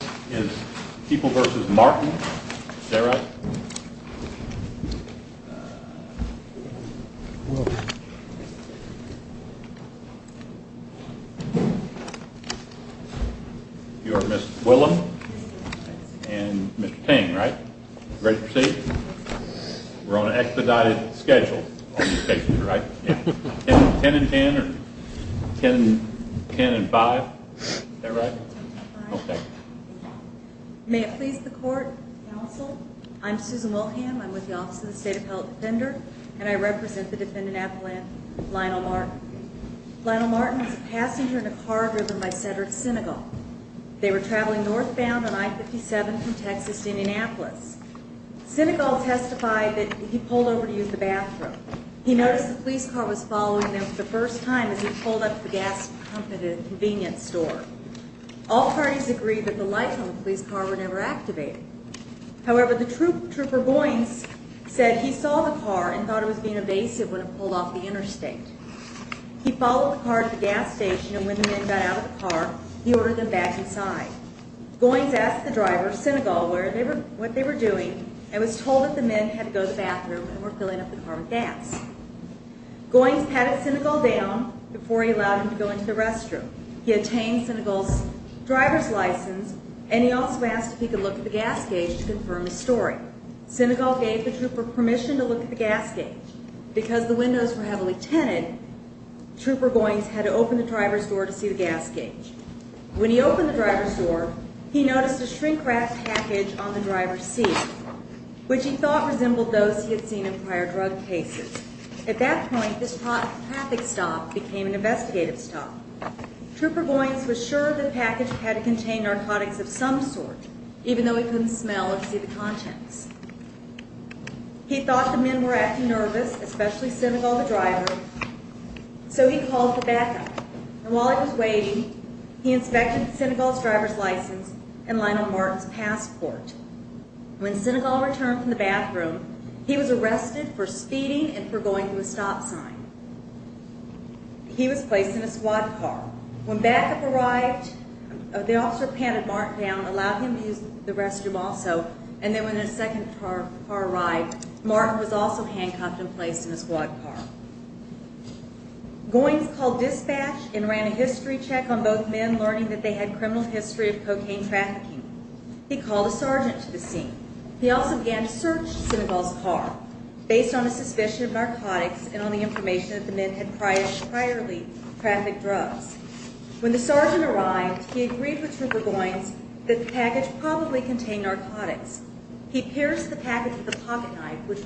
You are Ms. Willem and Mr. Tang, right? Ready to proceed? We're on an expedited schedule. I'm with the Office of the State Appellate Defender, and I represent the defendant, Apolline Lionel Martin. Lionel Martin was a passenger in a car driven by Cedric Senegal. They were traveling northbound on I-57 from Texas to Indianapolis. Senegal testified that he pulled over to use the bathroom. He noticed the police car was following them for the first time as he pulled up to the gas pump at a convenience store. All parties agreed that the lights on the police car were never activated. However, the trooper Goines said he saw the car and thought it was being evasive when it pulled off the interstate. He followed the car to the gas station, and when the men got out of the car, he ordered them back inside. Goines asked the driver of Senegal what they were doing and was told that the men had to go to the bathroom and were filling up the car with gas. Goines patted Senegal down before he allowed him to go into the restroom. He obtained Senegal's driver's license, and he also asked if he could look at the gas gauge to confirm his story. Senegal gave the trooper permission to look at the gas gauge. Because the windows were heavily tinted, Trooper Goines had to open the driver's door to see the gas gauge. When he opened the driver's door, he noticed a shrink-wrapped package on the driver's seat, which he thought resembled those he had seen in prior drug cases. At that point, this traffic stop became an investigative stop. Trooper Goines was sure the package had contained narcotics of some sort, even though he couldn't smell or see the contents. He thought the men were acting nervous, especially Senegal the driver, so he called for backup. While he was waiting, he inspected Senegal's driver's license and Lionel Martin's passport. When Senegal returned from the bathroom, he was arrested for speeding and for going through a stop sign. He was placed in a squad car. When backup arrived, the officer patted Martin down and allowed him to use the restroom also. And then when a second car arrived, Martin was also handcuffed and placed in a squad car. Goines called dispatch and ran a history check on both men, learning that they had criminal history of cocaine trafficking. He called a sergeant to the scene. He also began to search Senegal's car based on a suspicion of narcotics and on the information that the men had priorly trafficked drugs. When the sergeant arrived, he agreed with Trooper Goines that the package probably contained narcotics. He pierced the package with a pocket knife, which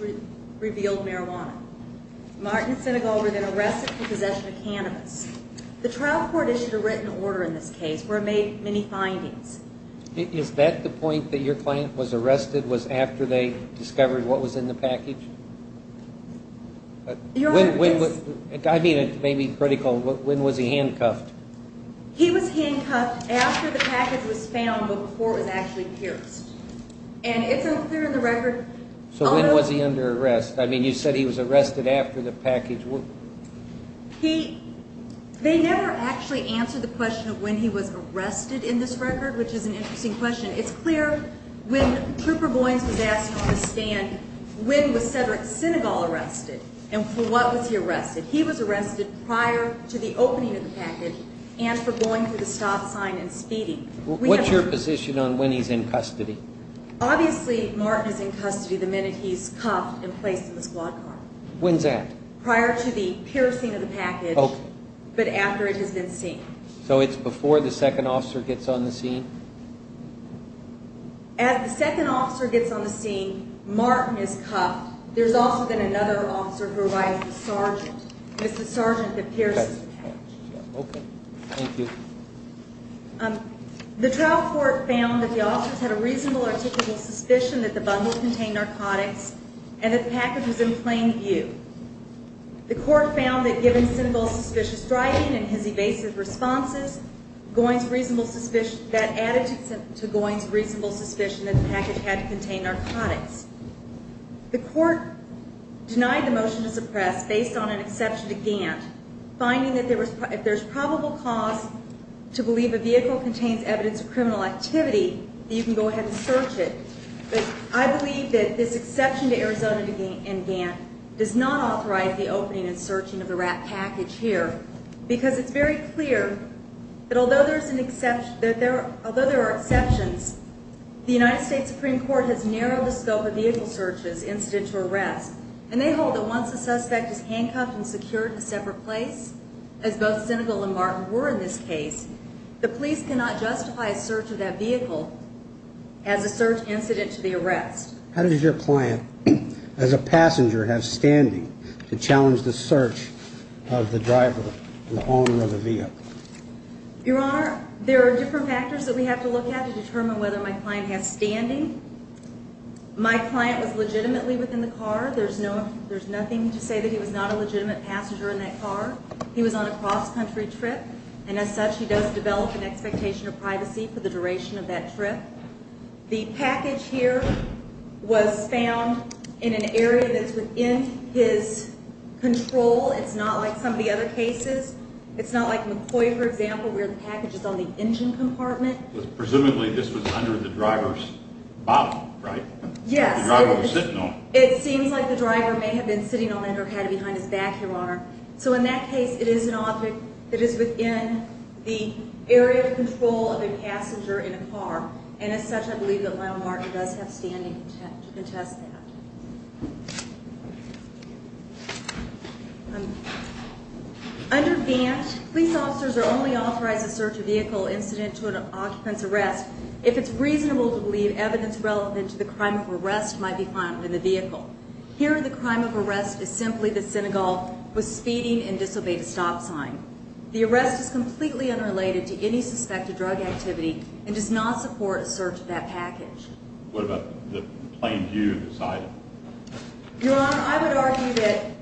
revealed marijuana. Martin Senegal was then arrested for possession of cannabis. The trial court issued a written order in this case where it made many findings. Is that the point, that your client was arrested was after they discovered what was in the package? Your Honor, it's... I mean, it may be critical, but when was he handcuffed? He was handcuffed after the package was found before it was actually pierced. And it's unclear in the record... So when was he under arrest? I mean, you said he was arrested after the package was... He... They never actually answered the question of when he was arrested in this record, which is an interesting question. It's clear when Trooper Goines was asked on the stand when was Cedric Senegal arrested and for what was he arrested. He was arrested prior to the opening of the package and for going through the stop sign and speeding. What's your position on when he's in custody? Obviously, Martin is in custody the minute he's cuffed and placed in the squad car. When's that? Prior to the piercing of the package, but after it has been seen. So it's before the second officer gets on the scene? As the second officer gets on the scene, Martin is cuffed. There's also then another officer who arrives, the sergeant. It's the sergeant that pierces the package. Okay. Thank you. The trial court found that the officers had a reasonable or typical suspicion that the bundle contained narcotics and that the package was in plain view. The court found that given Senegal's suspicious driving and his evasive responses, that added to Goines' reasonable suspicion that the package had to contain narcotics. The court denied the motion to suppress based on an exception to Gant, finding that if there's probable cause to believe a vehicle contains evidence of criminal activity, you can go ahead and search it. I believe that this exception to Arizona and Gant does not authorize the opening and searching of the wrapped package here because it's very clear that although there are exceptions, the United States Supreme Court has narrowed the scope of vehicle searches incident to arrest, and they hold that once a suspect is handcuffed and secured in a separate place, as both Senegal and Martin were in this case, the police cannot justify a search of that vehicle as a search incident to the arrest. How does your client, as a passenger, have standing to challenge the search of the driver and the owner of the vehicle? Your Honor, there are different factors that we have to look at to determine whether my client has standing. My client was legitimately within the car. There's nothing to say that he was not a legitimate passenger in that car. He was on a cross-country trip, and as such, he does develop an expectation of privacy for the duration of that trip. The package here was found in an area that's within his control. It's not like some of the other cases. It's not like McCoy, for example, where the package is on the engine compartment. Presumably, this was under the driver's bottom, right? Yes. The driver was sitting on it. It seems like the driver may have been sitting on it or had it behind his back, Your Honor. So in that case, it is an object that is within the area of control of a passenger in a car, and as such, I believe that Lionel Martin does have standing to contest that. Under Vant, police officers are only authorized to search a vehicle incident to an occupant's arrest if it's reasonable to believe evidence relevant to the crime of arrest might be found in the vehicle. Here, the crime of arrest is simply that Senegal was speeding and disobeyed a stop sign. The arrest is completely unrelated to any suspected drug activity and does not support a search of that package. What about the plain view of this item? Your Honor, I would argue that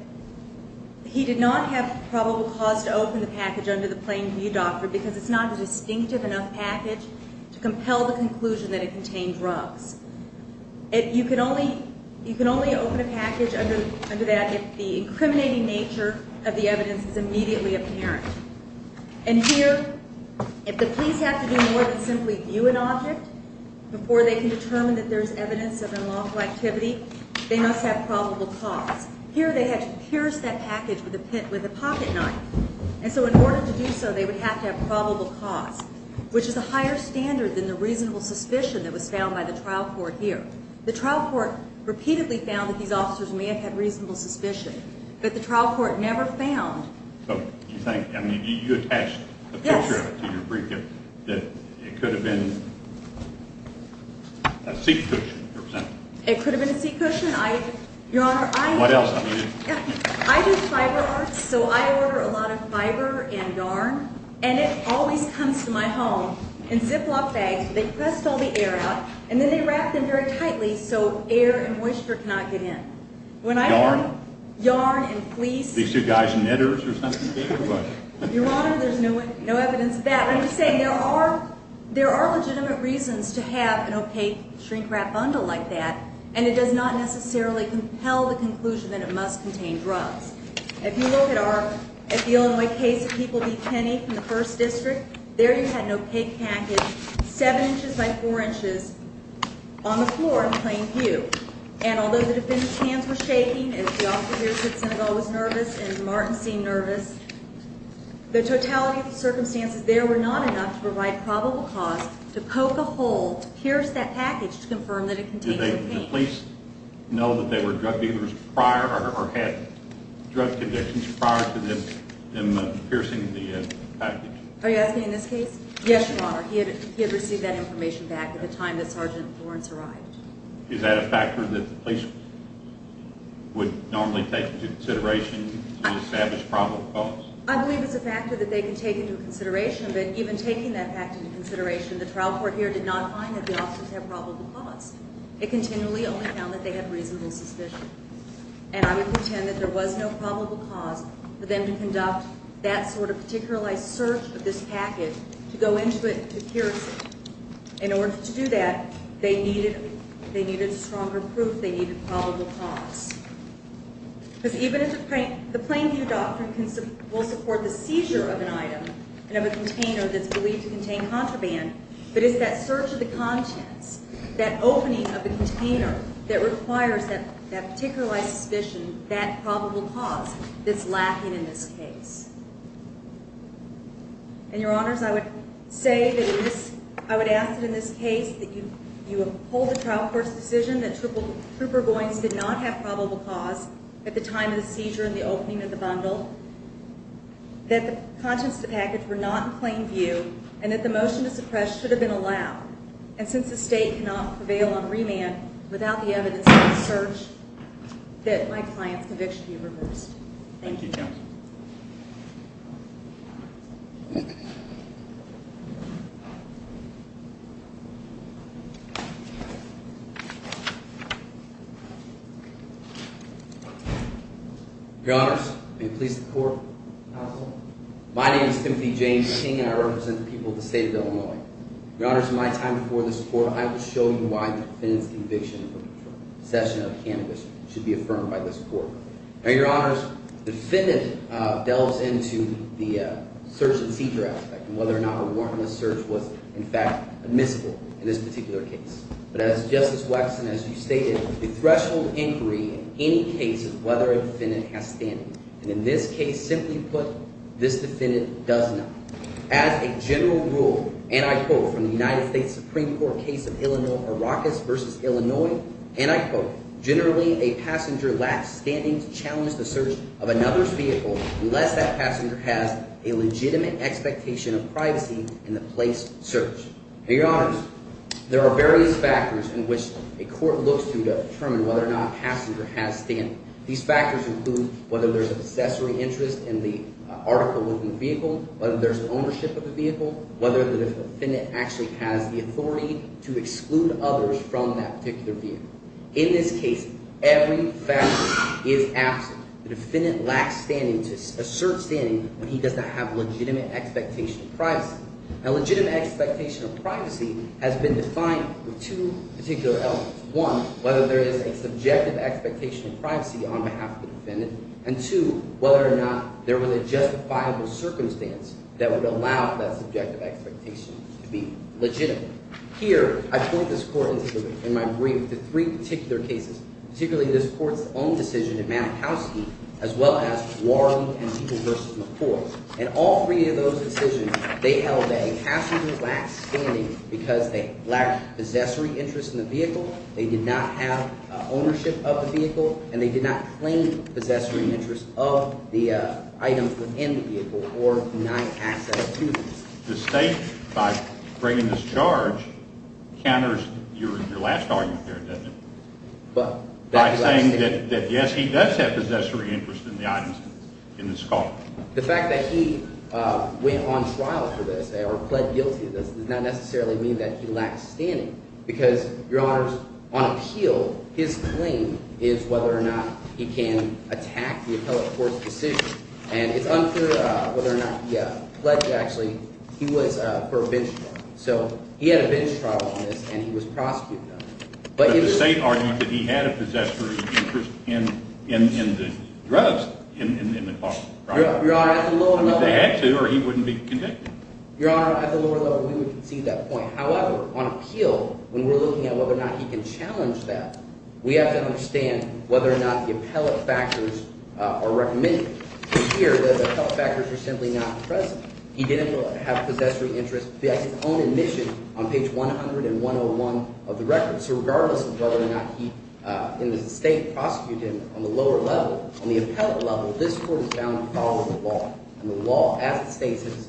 he did not have probable cause to open the package under the plain view doctrine because it's not a distinctive enough package to compel the conclusion that it contained drugs. You can only open a package under that if the incriminating nature of the evidence is immediately apparent. And here, if the police have to do more than simply view an object before they can determine that there's evidence of unlawful activity, they must have probable cause. Here, they had to pierce that package with a pocketknife, and so in order to do so, they would have to have probable cause, which is a higher standard than the reasonable suspicion that was found by the trial court here. The trial court repeatedly found that these officers may have had reasonable suspicion, but the trial court never found... So, do you think, I mean, you attached a picture to your briefcase that it could have been a seat cushion? It could have been a seat cushion. I... Your Honor, I... What else? I do fiber arts, so I order a lot of fiber and yarn, and it always comes to my home in Ziploc bags. They press all the air out, and then they wrap them very tightly so air and moisture cannot get in. When I order... Yarn? Yarn and fleece... These two guys knitters or something? Your Honor, there's no evidence of that. I'm just saying there are legitimate reasons to have an opaque shrink-wrap bundle like that, and it does not necessarily compel the conclusion that it must contain drugs. If you look at our... At the Illinois case of People v. Kenney from the 1st District, there you had an opaque package 7 inches by 4 inches on the floor in plain view, and although the defendant's hands were shaking, as the officer here said Senegal was nervous and Martin seemed nervous, the totality of the circumstances there were not enough to provide probable cause to poke a hole to pierce that package to confirm that it contained cocaine. Did the police know that they were drug dealers prior or had drug addictions prior to them piercing the package? Are you asking in this case? Yes, Your Honor. He had received that information back at the time that Sergeant Lawrence arrived. Is that a factor that the police would normally take into consideration to establish probable cause? I believe it's a factor that they can take into consideration, but even taking that factor into consideration, the trial court here did not find that the officers had probable cause. It continually only found that they had reasonable suspicion, and I would pretend that there was no probable cause for them to conduct that sort of particularized search of this package to go into it to pierce it. In order to do that, they needed stronger proof they needed probable cause, because even if the plain view doctrine will support the seizure of an item and of a container that's believed to contain contraband, but it's that search of the contents, that opening of the container, that requires that particularized suspicion, that probable cause, that's lacking in this case. And, Your Honors, I would say that I would ask that in this case that you uphold the trial court's decision that Trooper Boynes did not have probable cause at the time of the seizure and the opening of the bundle, that the contents of the package were not in plain view, and that the motion to suppress should have been allowed. And since the State cannot prevail on remand without the evidence of the search, that my client's conviction be reversed. Thank you, Judge. Your Honors, may it please the Court. My name is Timothy James King, and I represent the people of the State of Illinois. Your Honors, in my time before this Court, I will show you why the defendant's conviction for possession of cannabis should be affirmed by this Court. Now, Your Honors, the defendant delves into the search and seizure aspect and whether or not a warrantless search was, in fact, admissible in this particular case. But as Justice Waxman, as you stated, a threshold inquiry in any case is whether a defendant has standing. And in this case, simply put, this defendant does not. As a general rule, and I quote from the United States Supreme Court case of Illinois, and I quote, Now, Your Honors, there are various factors in which a court looks to determine whether or not a passenger has standing. These factors include whether there's an accessory interest in the article within the vehicle, whether there's the ownership of the vehicle, whether the defendant actually has the authority to exclude others from that particular vehicle. In this case, every factor is absent. The defendant lacks standing to assert standing when he does not have legitimate expectation of privacy. Now, legitimate expectation of privacy has been defined with two particular elements. One, whether there is a subjective expectation of privacy on behalf of the defendant. And two, whether or not there was a justifiable circumstance that would allow for that subjective expectation to be legitimate. Here, I point this court in my brief to three particular cases, particularly this court's own decision in Mankowski, as well as Warley v. McCoy. In all three of those decisions, they held that a passenger lacked standing because they lacked possessory interest in the vehicle. They did not have ownership of the vehicle, and they did not claim possessory interest of the items within the vehicle or denied access to them. The State, by bringing this charge, counters your last argument there, doesn't it? By saying that, yes, he does have possessory interest in the items in this call. The fact that he went on trial for this or pled guilty to this does not necessarily mean that he lacks standing. Because, Your Honors, on appeal, his claim is whether or not he can attack the appellate court's decision. And it's unclear whether or not he pledged, actually, he was for a bench trial. So he had a bench trial on this, and he was prosecuted on it. But the State argued that he had a possessory interest in the drugs in the call. Your Honor, at the lower level— He had to, or he wouldn't be convicted. Your Honor, at the lower level, we would concede that point. However, on appeal, when we're looking at whether or not he can challenge that, we have to understand whether or not the appellate factors are recommended. Here, the appellate factors are simply not present. He didn't have possessory interest. He has his own admission on page 100 and 101 of the record. So regardless of whether or not he, in the State, prosecuted him, on the lower level, on the appellate level, this court is bound to follow the law. And the law, as it states, has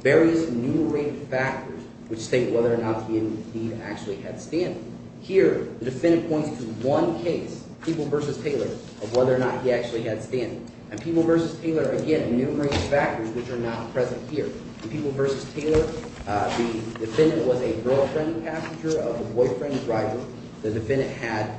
various enumerated factors which state whether or not he, indeed, actually had standing. Here, the defendant points to one case, People v. Taylor, of whether or not he actually had standing. And People v. Taylor, again, enumerated factors which are not present here. In People v. Taylor, the defendant was a girlfriend passenger of the boyfriend driver. The defendant had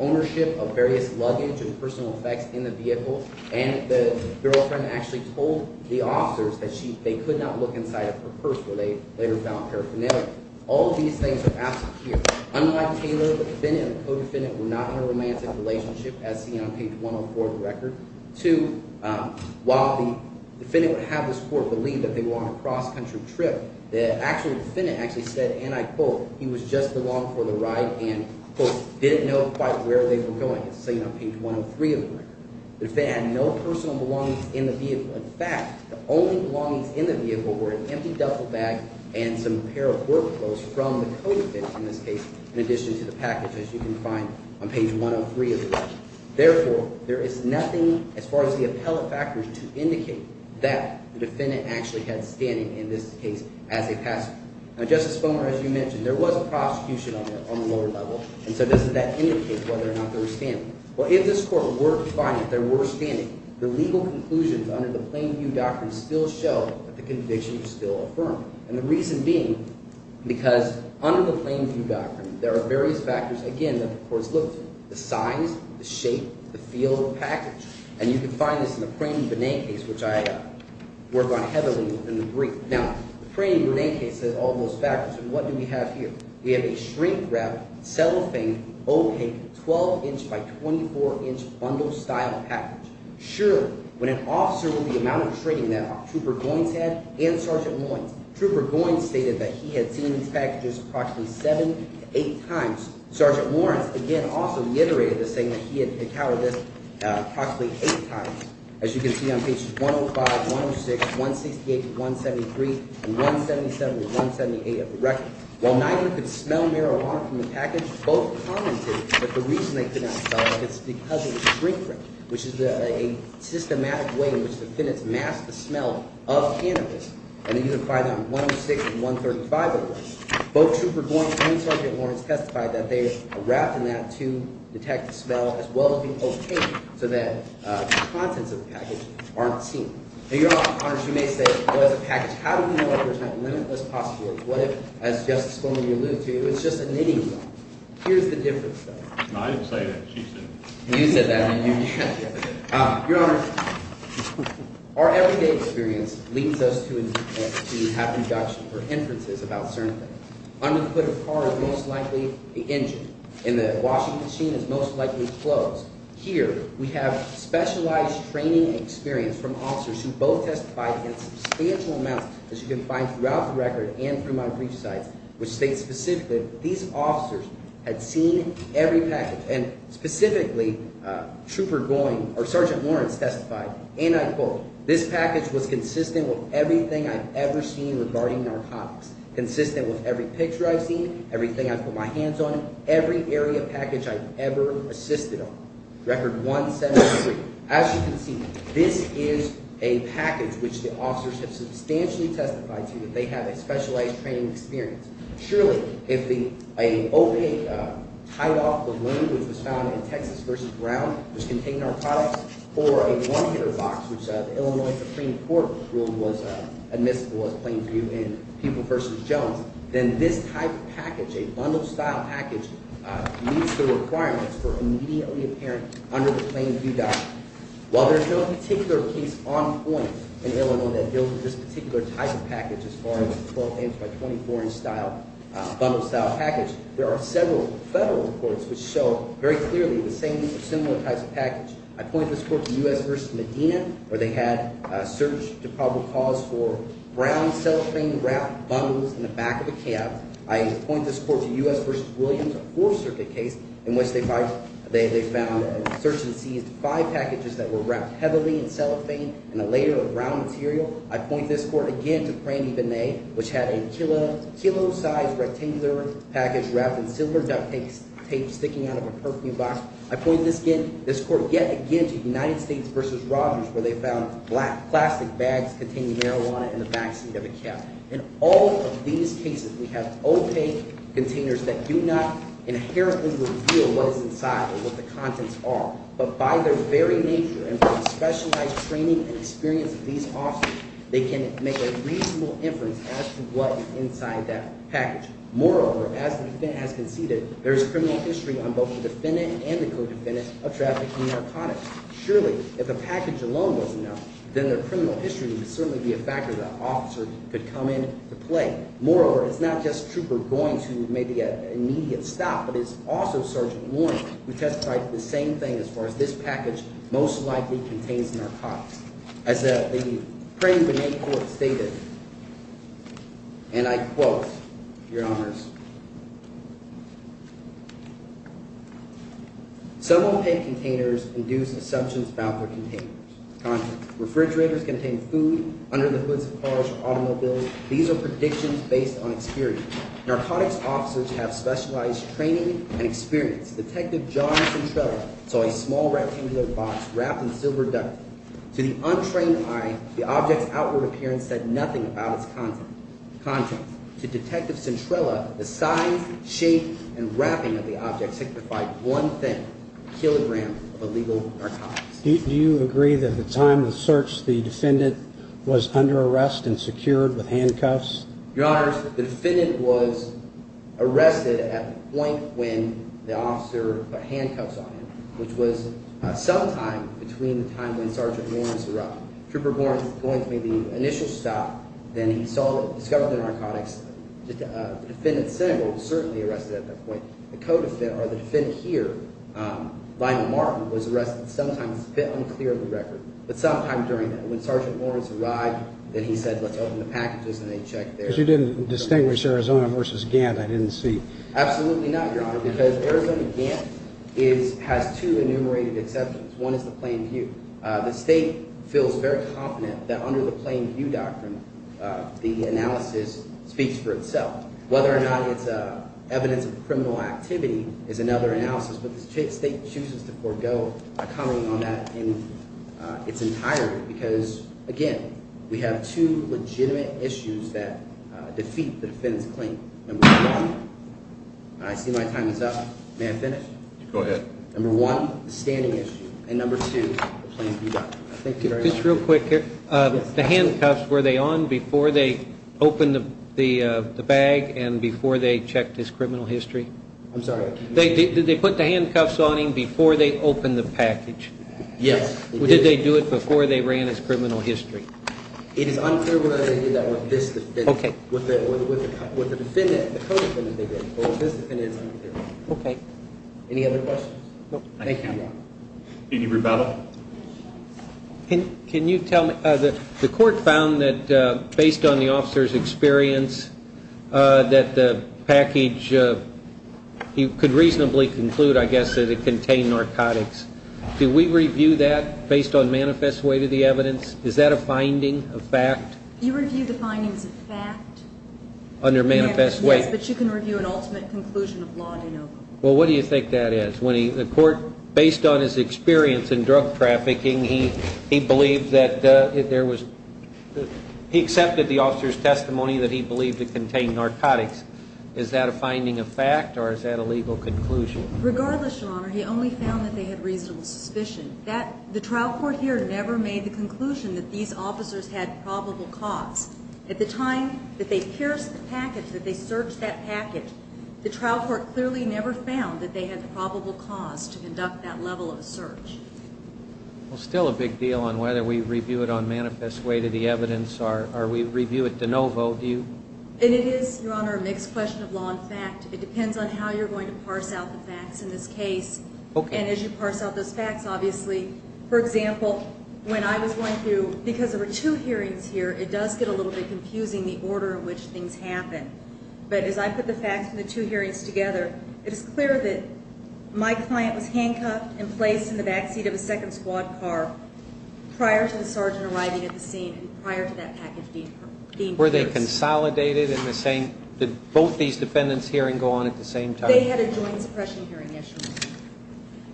ownership of various luggage and personal effects in the vehicle, and the girlfriend actually told the officers that they could not look inside of her purse, where they later found paraphernalia. All of these things are absent here. Unlike Taylor, the defendant and the co-defendant were not in a romantic relationship, as seen on page 104 of the record. Here, too, while the defendant would have this court believe that they were on a cross-country trip, the actual defendant actually said, and I quote, he was just along for the ride and, quote, didn't know quite where they were going. It's seen on page 103 of the record. The defendant had no personal belongings in the vehicle. In fact, the only belongings in the vehicle were an empty duffel bag and some pair of work clothes from the co-defendant in this case, in addition to the package, as you can find on page 103 of the record. Therefore, there is nothing as far as the appellate factors to indicate that the defendant actually had standing in this case as a passenger. Now, Justice Boehner, as you mentioned, there was a prosecution on the lower level, and so doesn't that indicate whether or not there was standing? Well, if this court were to find that there were standing, the legal conclusions under the plain view doctrine still show that the conviction was still affirmed. And the reason being because under the plain view doctrine, there are various factors, again, that the court has looked at—the size, the shape, the feel of the package. And you can find this in the Praney-Burnay case, which I work on heavily within the brief. Now, the Praney-Burnay case has all those factors, and what do we have here? We have a shrink-wrapped, cellophane, opaque, 12-inch by 24-inch bundle-style package. Sure, when an officer with the amount of training that Trooper Goines had and Sergeant Lawrence, Trooper Goines stated that he had seen these packages approximately seven to eight times. Sergeant Lawrence, again, also reiterated the same, that he had decoded this approximately eight times. As you can see on pages 105, 106, 168 to 173, and 177 to 178 of the record. While neither could smell marijuana from the package, both commented that the reason they could not smell it is because it was shrink-wrapped, which is a systematic way in which the defendants mask the smell of cannabis. And you can find that on 106 and 135 of the record. Both Trooper Goines and Sergeant Lawrence testified that they are wrapped in that to detect the smell as well as be opaque so that the contents of the package aren't seen. Now, Your Honor, you may say, well, as a package, how do we know if there's not limitless possibilities? What if, as Justice Sperling alluded to, it's just a knitting needle? Here's the difference, though. I didn't say that. She said it. You said that. Your Honor, our everyday experience leads us to have deductions or inferences about certain things. Under the hood of a car is most likely an engine, and the washing machine is most likely closed. Here we have specialized training and experience from officers who both testified in substantial amounts, as you can find throughout the record and through my briefsides, which state specifically that these officers had seen every package. And specifically, Trooper Goines or Sergeant Lawrence testified, and I quote, this package was consistent with everything I've ever seen regarding narcotics, consistent with every picture I've seen, everything I've put my hands on, every area package I've ever assisted on. Record 173. As you can see, this is a package which the officers have substantially testified to that they have a specialized training experience. Surely, if an opaque, tied-off balloon, which was found in Texas v. Brown, which contained narcotics, or a one-hitter box, which the Illinois Supreme Court ruled was admissible as plain view in People v. Jones, then this type of package, a bundle-style package, meets the requirements for immediately apparent under the plain view document. While there's no particular case on point in Illinois that deals with this particular type of package as far as a 12-inch by 24-inch style, bundle-style package, there are several federal reports which show very clearly the same or similar types of package. I point this court to U.S. v. Medina, where they had a search to probable cause for brown cellophane wrapped bundles in the back of a cab. I point this court to U.S. v. Williams, a Fourth Circuit case in which they found and searched and seized five packages that were wrapped heavily in cellophane in a layer of brown material. I point this court again to Prami Vinay, which had a kilo-sized rectangular package wrapped in silver duct tape sticking out of a perfume box. I point this court yet again to United States v. Rogers, where they found black plastic bags containing marijuana in the backseat of a cab. In all of these cases, we have opaque containers that do not inherently reveal what is inside or what the contents are. But by their very nature and from specialized training and experience of these officers, they can make a reasonable inference as to what is inside that package. Moreover, as the defendant has conceded, there is criminal history on both the defendant and the co-defendant of trafficking narcotics. Surely, if a package alone wasn't enough, then their criminal history would certainly be a factor that an officer could come in to play. Moreover, it's not just Trooper Goines who made the immediate stop, but it's also Sergeant Warren who testified to the same thing as far as this package most likely contains narcotics. As the Prami Vinay court stated, and I quote, Your Honors, Some opaque containers induce assumptions about their contents. Refrigerators contain food under the hoods of cars or automobiles. These are predictions based on experience. Narcotics officers have specialized training and experience. Detective John Centrella saw a small rectangular box wrapped in silver duct tape. To the untrained eye, the object's outward appearance said nothing about its contents. To Detective Centrella, the size, shape, and wrapping of the object signified one thing, a kilogram of illegal narcotics. Do you agree that at the time of the search, the defendant was under arrest and secured with handcuffs? Your Honors, the defendant was arrested at the point when the officer put handcuffs on him, which was sometime between the time when Sergeant Warren was arrested. Trooper Warren going through the initial stop, then he discovered the narcotics. Defendant Centrella was certainly arrested at that point. The co-defendant, or the defendant here, Violent Martin, was arrested sometime unclear of the record, but sometime during that. When Sergeant Warren arrived, then he said, let's open the packages, and they checked there. Because you didn't distinguish Arizona versus Gant, I didn't see. Absolutely not, Your Honor, because Arizona-Gant has two enumerated exceptions. One is the plain view. The State feels very confident that under the plain view doctrine, the analysis speaks for itself. Whether or not it's evidence of criminal activity is another analysis, but the State chooses to forego a comment on that in its entirety because, again, we have two legitimate issues that defeat the defendant's claim. Number one – I see my time is up. May I finish? Go ahead. Number one, the standing issue, and number two, the plain view doctrine. Thank you very much. Just real quick here. The handcuffs, were they on before they opened the bag and before they checked his criminal history? I'm sorry? Did they put the handcuffs on him before they opened the package? Yes, they did. Did they do it before they ran his criminal history? It is unclear whether they did that with this defendant. Okay. With the defendant, the co-defendant, they did. But with this defendant, it's unclear. Okay. Any other questions? No. Thank you. Any rebuttal? Can you tell me – the court found that, based on the officer's experience, that the package – you could reasonably conclude, I guess, that it contained narcotics. Do we review that based on manifest way to the evidence? Is that a finding, a fact? You review the findings of fact. Under manifest way? Yes, but you can review an ultimate conclusion of law, you know. Well, what do you think that is? The court, based on his experience in drug trafficking, he believed that there was – he accepted the officer's testimony that he believed it contained narcotics. Is that a finding of fact, or is that a legal conclusion? Regardless, Your Honor, he only found that they had reasonable suspicion. The trial court here never made the conclusion that these officers had probable cause. At the time that they pierced the package, that they searched that package, the trial court clearly never found that they had probable cause to conduct that level of a search. Well, still a big deal on whether we review it on manifest way to the evidence, or we review it de novo. And it is, Your Honor, a mixed question of law and fact. It depends on how you're going to parse out the facts in this case. Okay. And as you parse out those facts, obviously, for example, when I was going through – because there were two hearings here, it does get a little bit confusing the order in which things happen. But as I put the facts from the two hearings together, it is clear that my client was handcuffed and placed in the backseat of a second squad car prior to the sergeant arriving at the scene and prior to that package being pierced. Were they consolidated in the same – did both these defendants' hearings go on at the same time? They had a joint suppression hearing issue.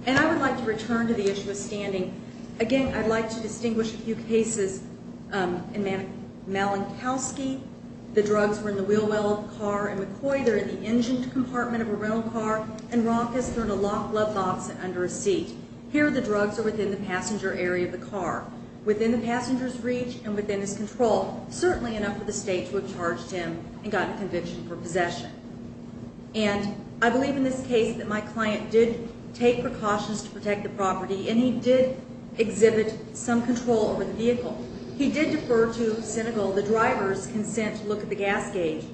And I would like to return to the issue of standing. Again, I'd like to distinguish a few cases in Malankowski. The drugs were in the wheel well of the car. In McCoy, they're in the engine compartment of a rental car. And Rock has thrown a locked glove box under a seat. Here, the drugs are within the passenger area of the car. Within the passenger's reach and within his control, certainly enough for the state to have charged him and gotten conviction for possession. And I believe in this case that my client did take precautions to protect the property, and he did exhibit some control over the vehicle. He did defer to Senegal the driver's consent to look at the gas gauge.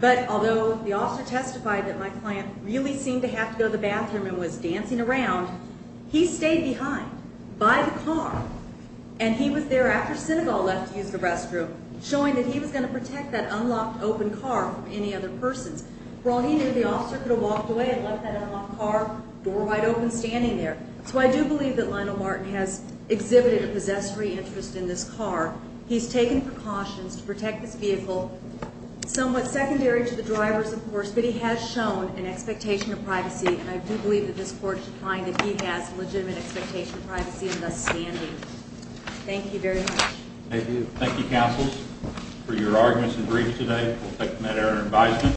But although the officer testified that my client really seemed to have to go to the bathroom and was dancing around, he stayed behind by the car. And he was there after Senegal left to use the restroom, showing that he was going to protect that unlocked, open car from any other persons. For all he knew, the officer could have walked away and left that unlocked car door wide open standing there. So I do believe that Lionel Martin has exhibited a possessory interest in this car. He's taken precautions to protect this vehicle, somewhat secondary to the driver's, of course, but he has shown an expectation of privacy. And I do believe that this court should find that he has legitimate expectation of privacy and thus standing. Thank you very much. Thank you. Thank you, counsels, for your arguments and briefs today. We'll take them at our advisement.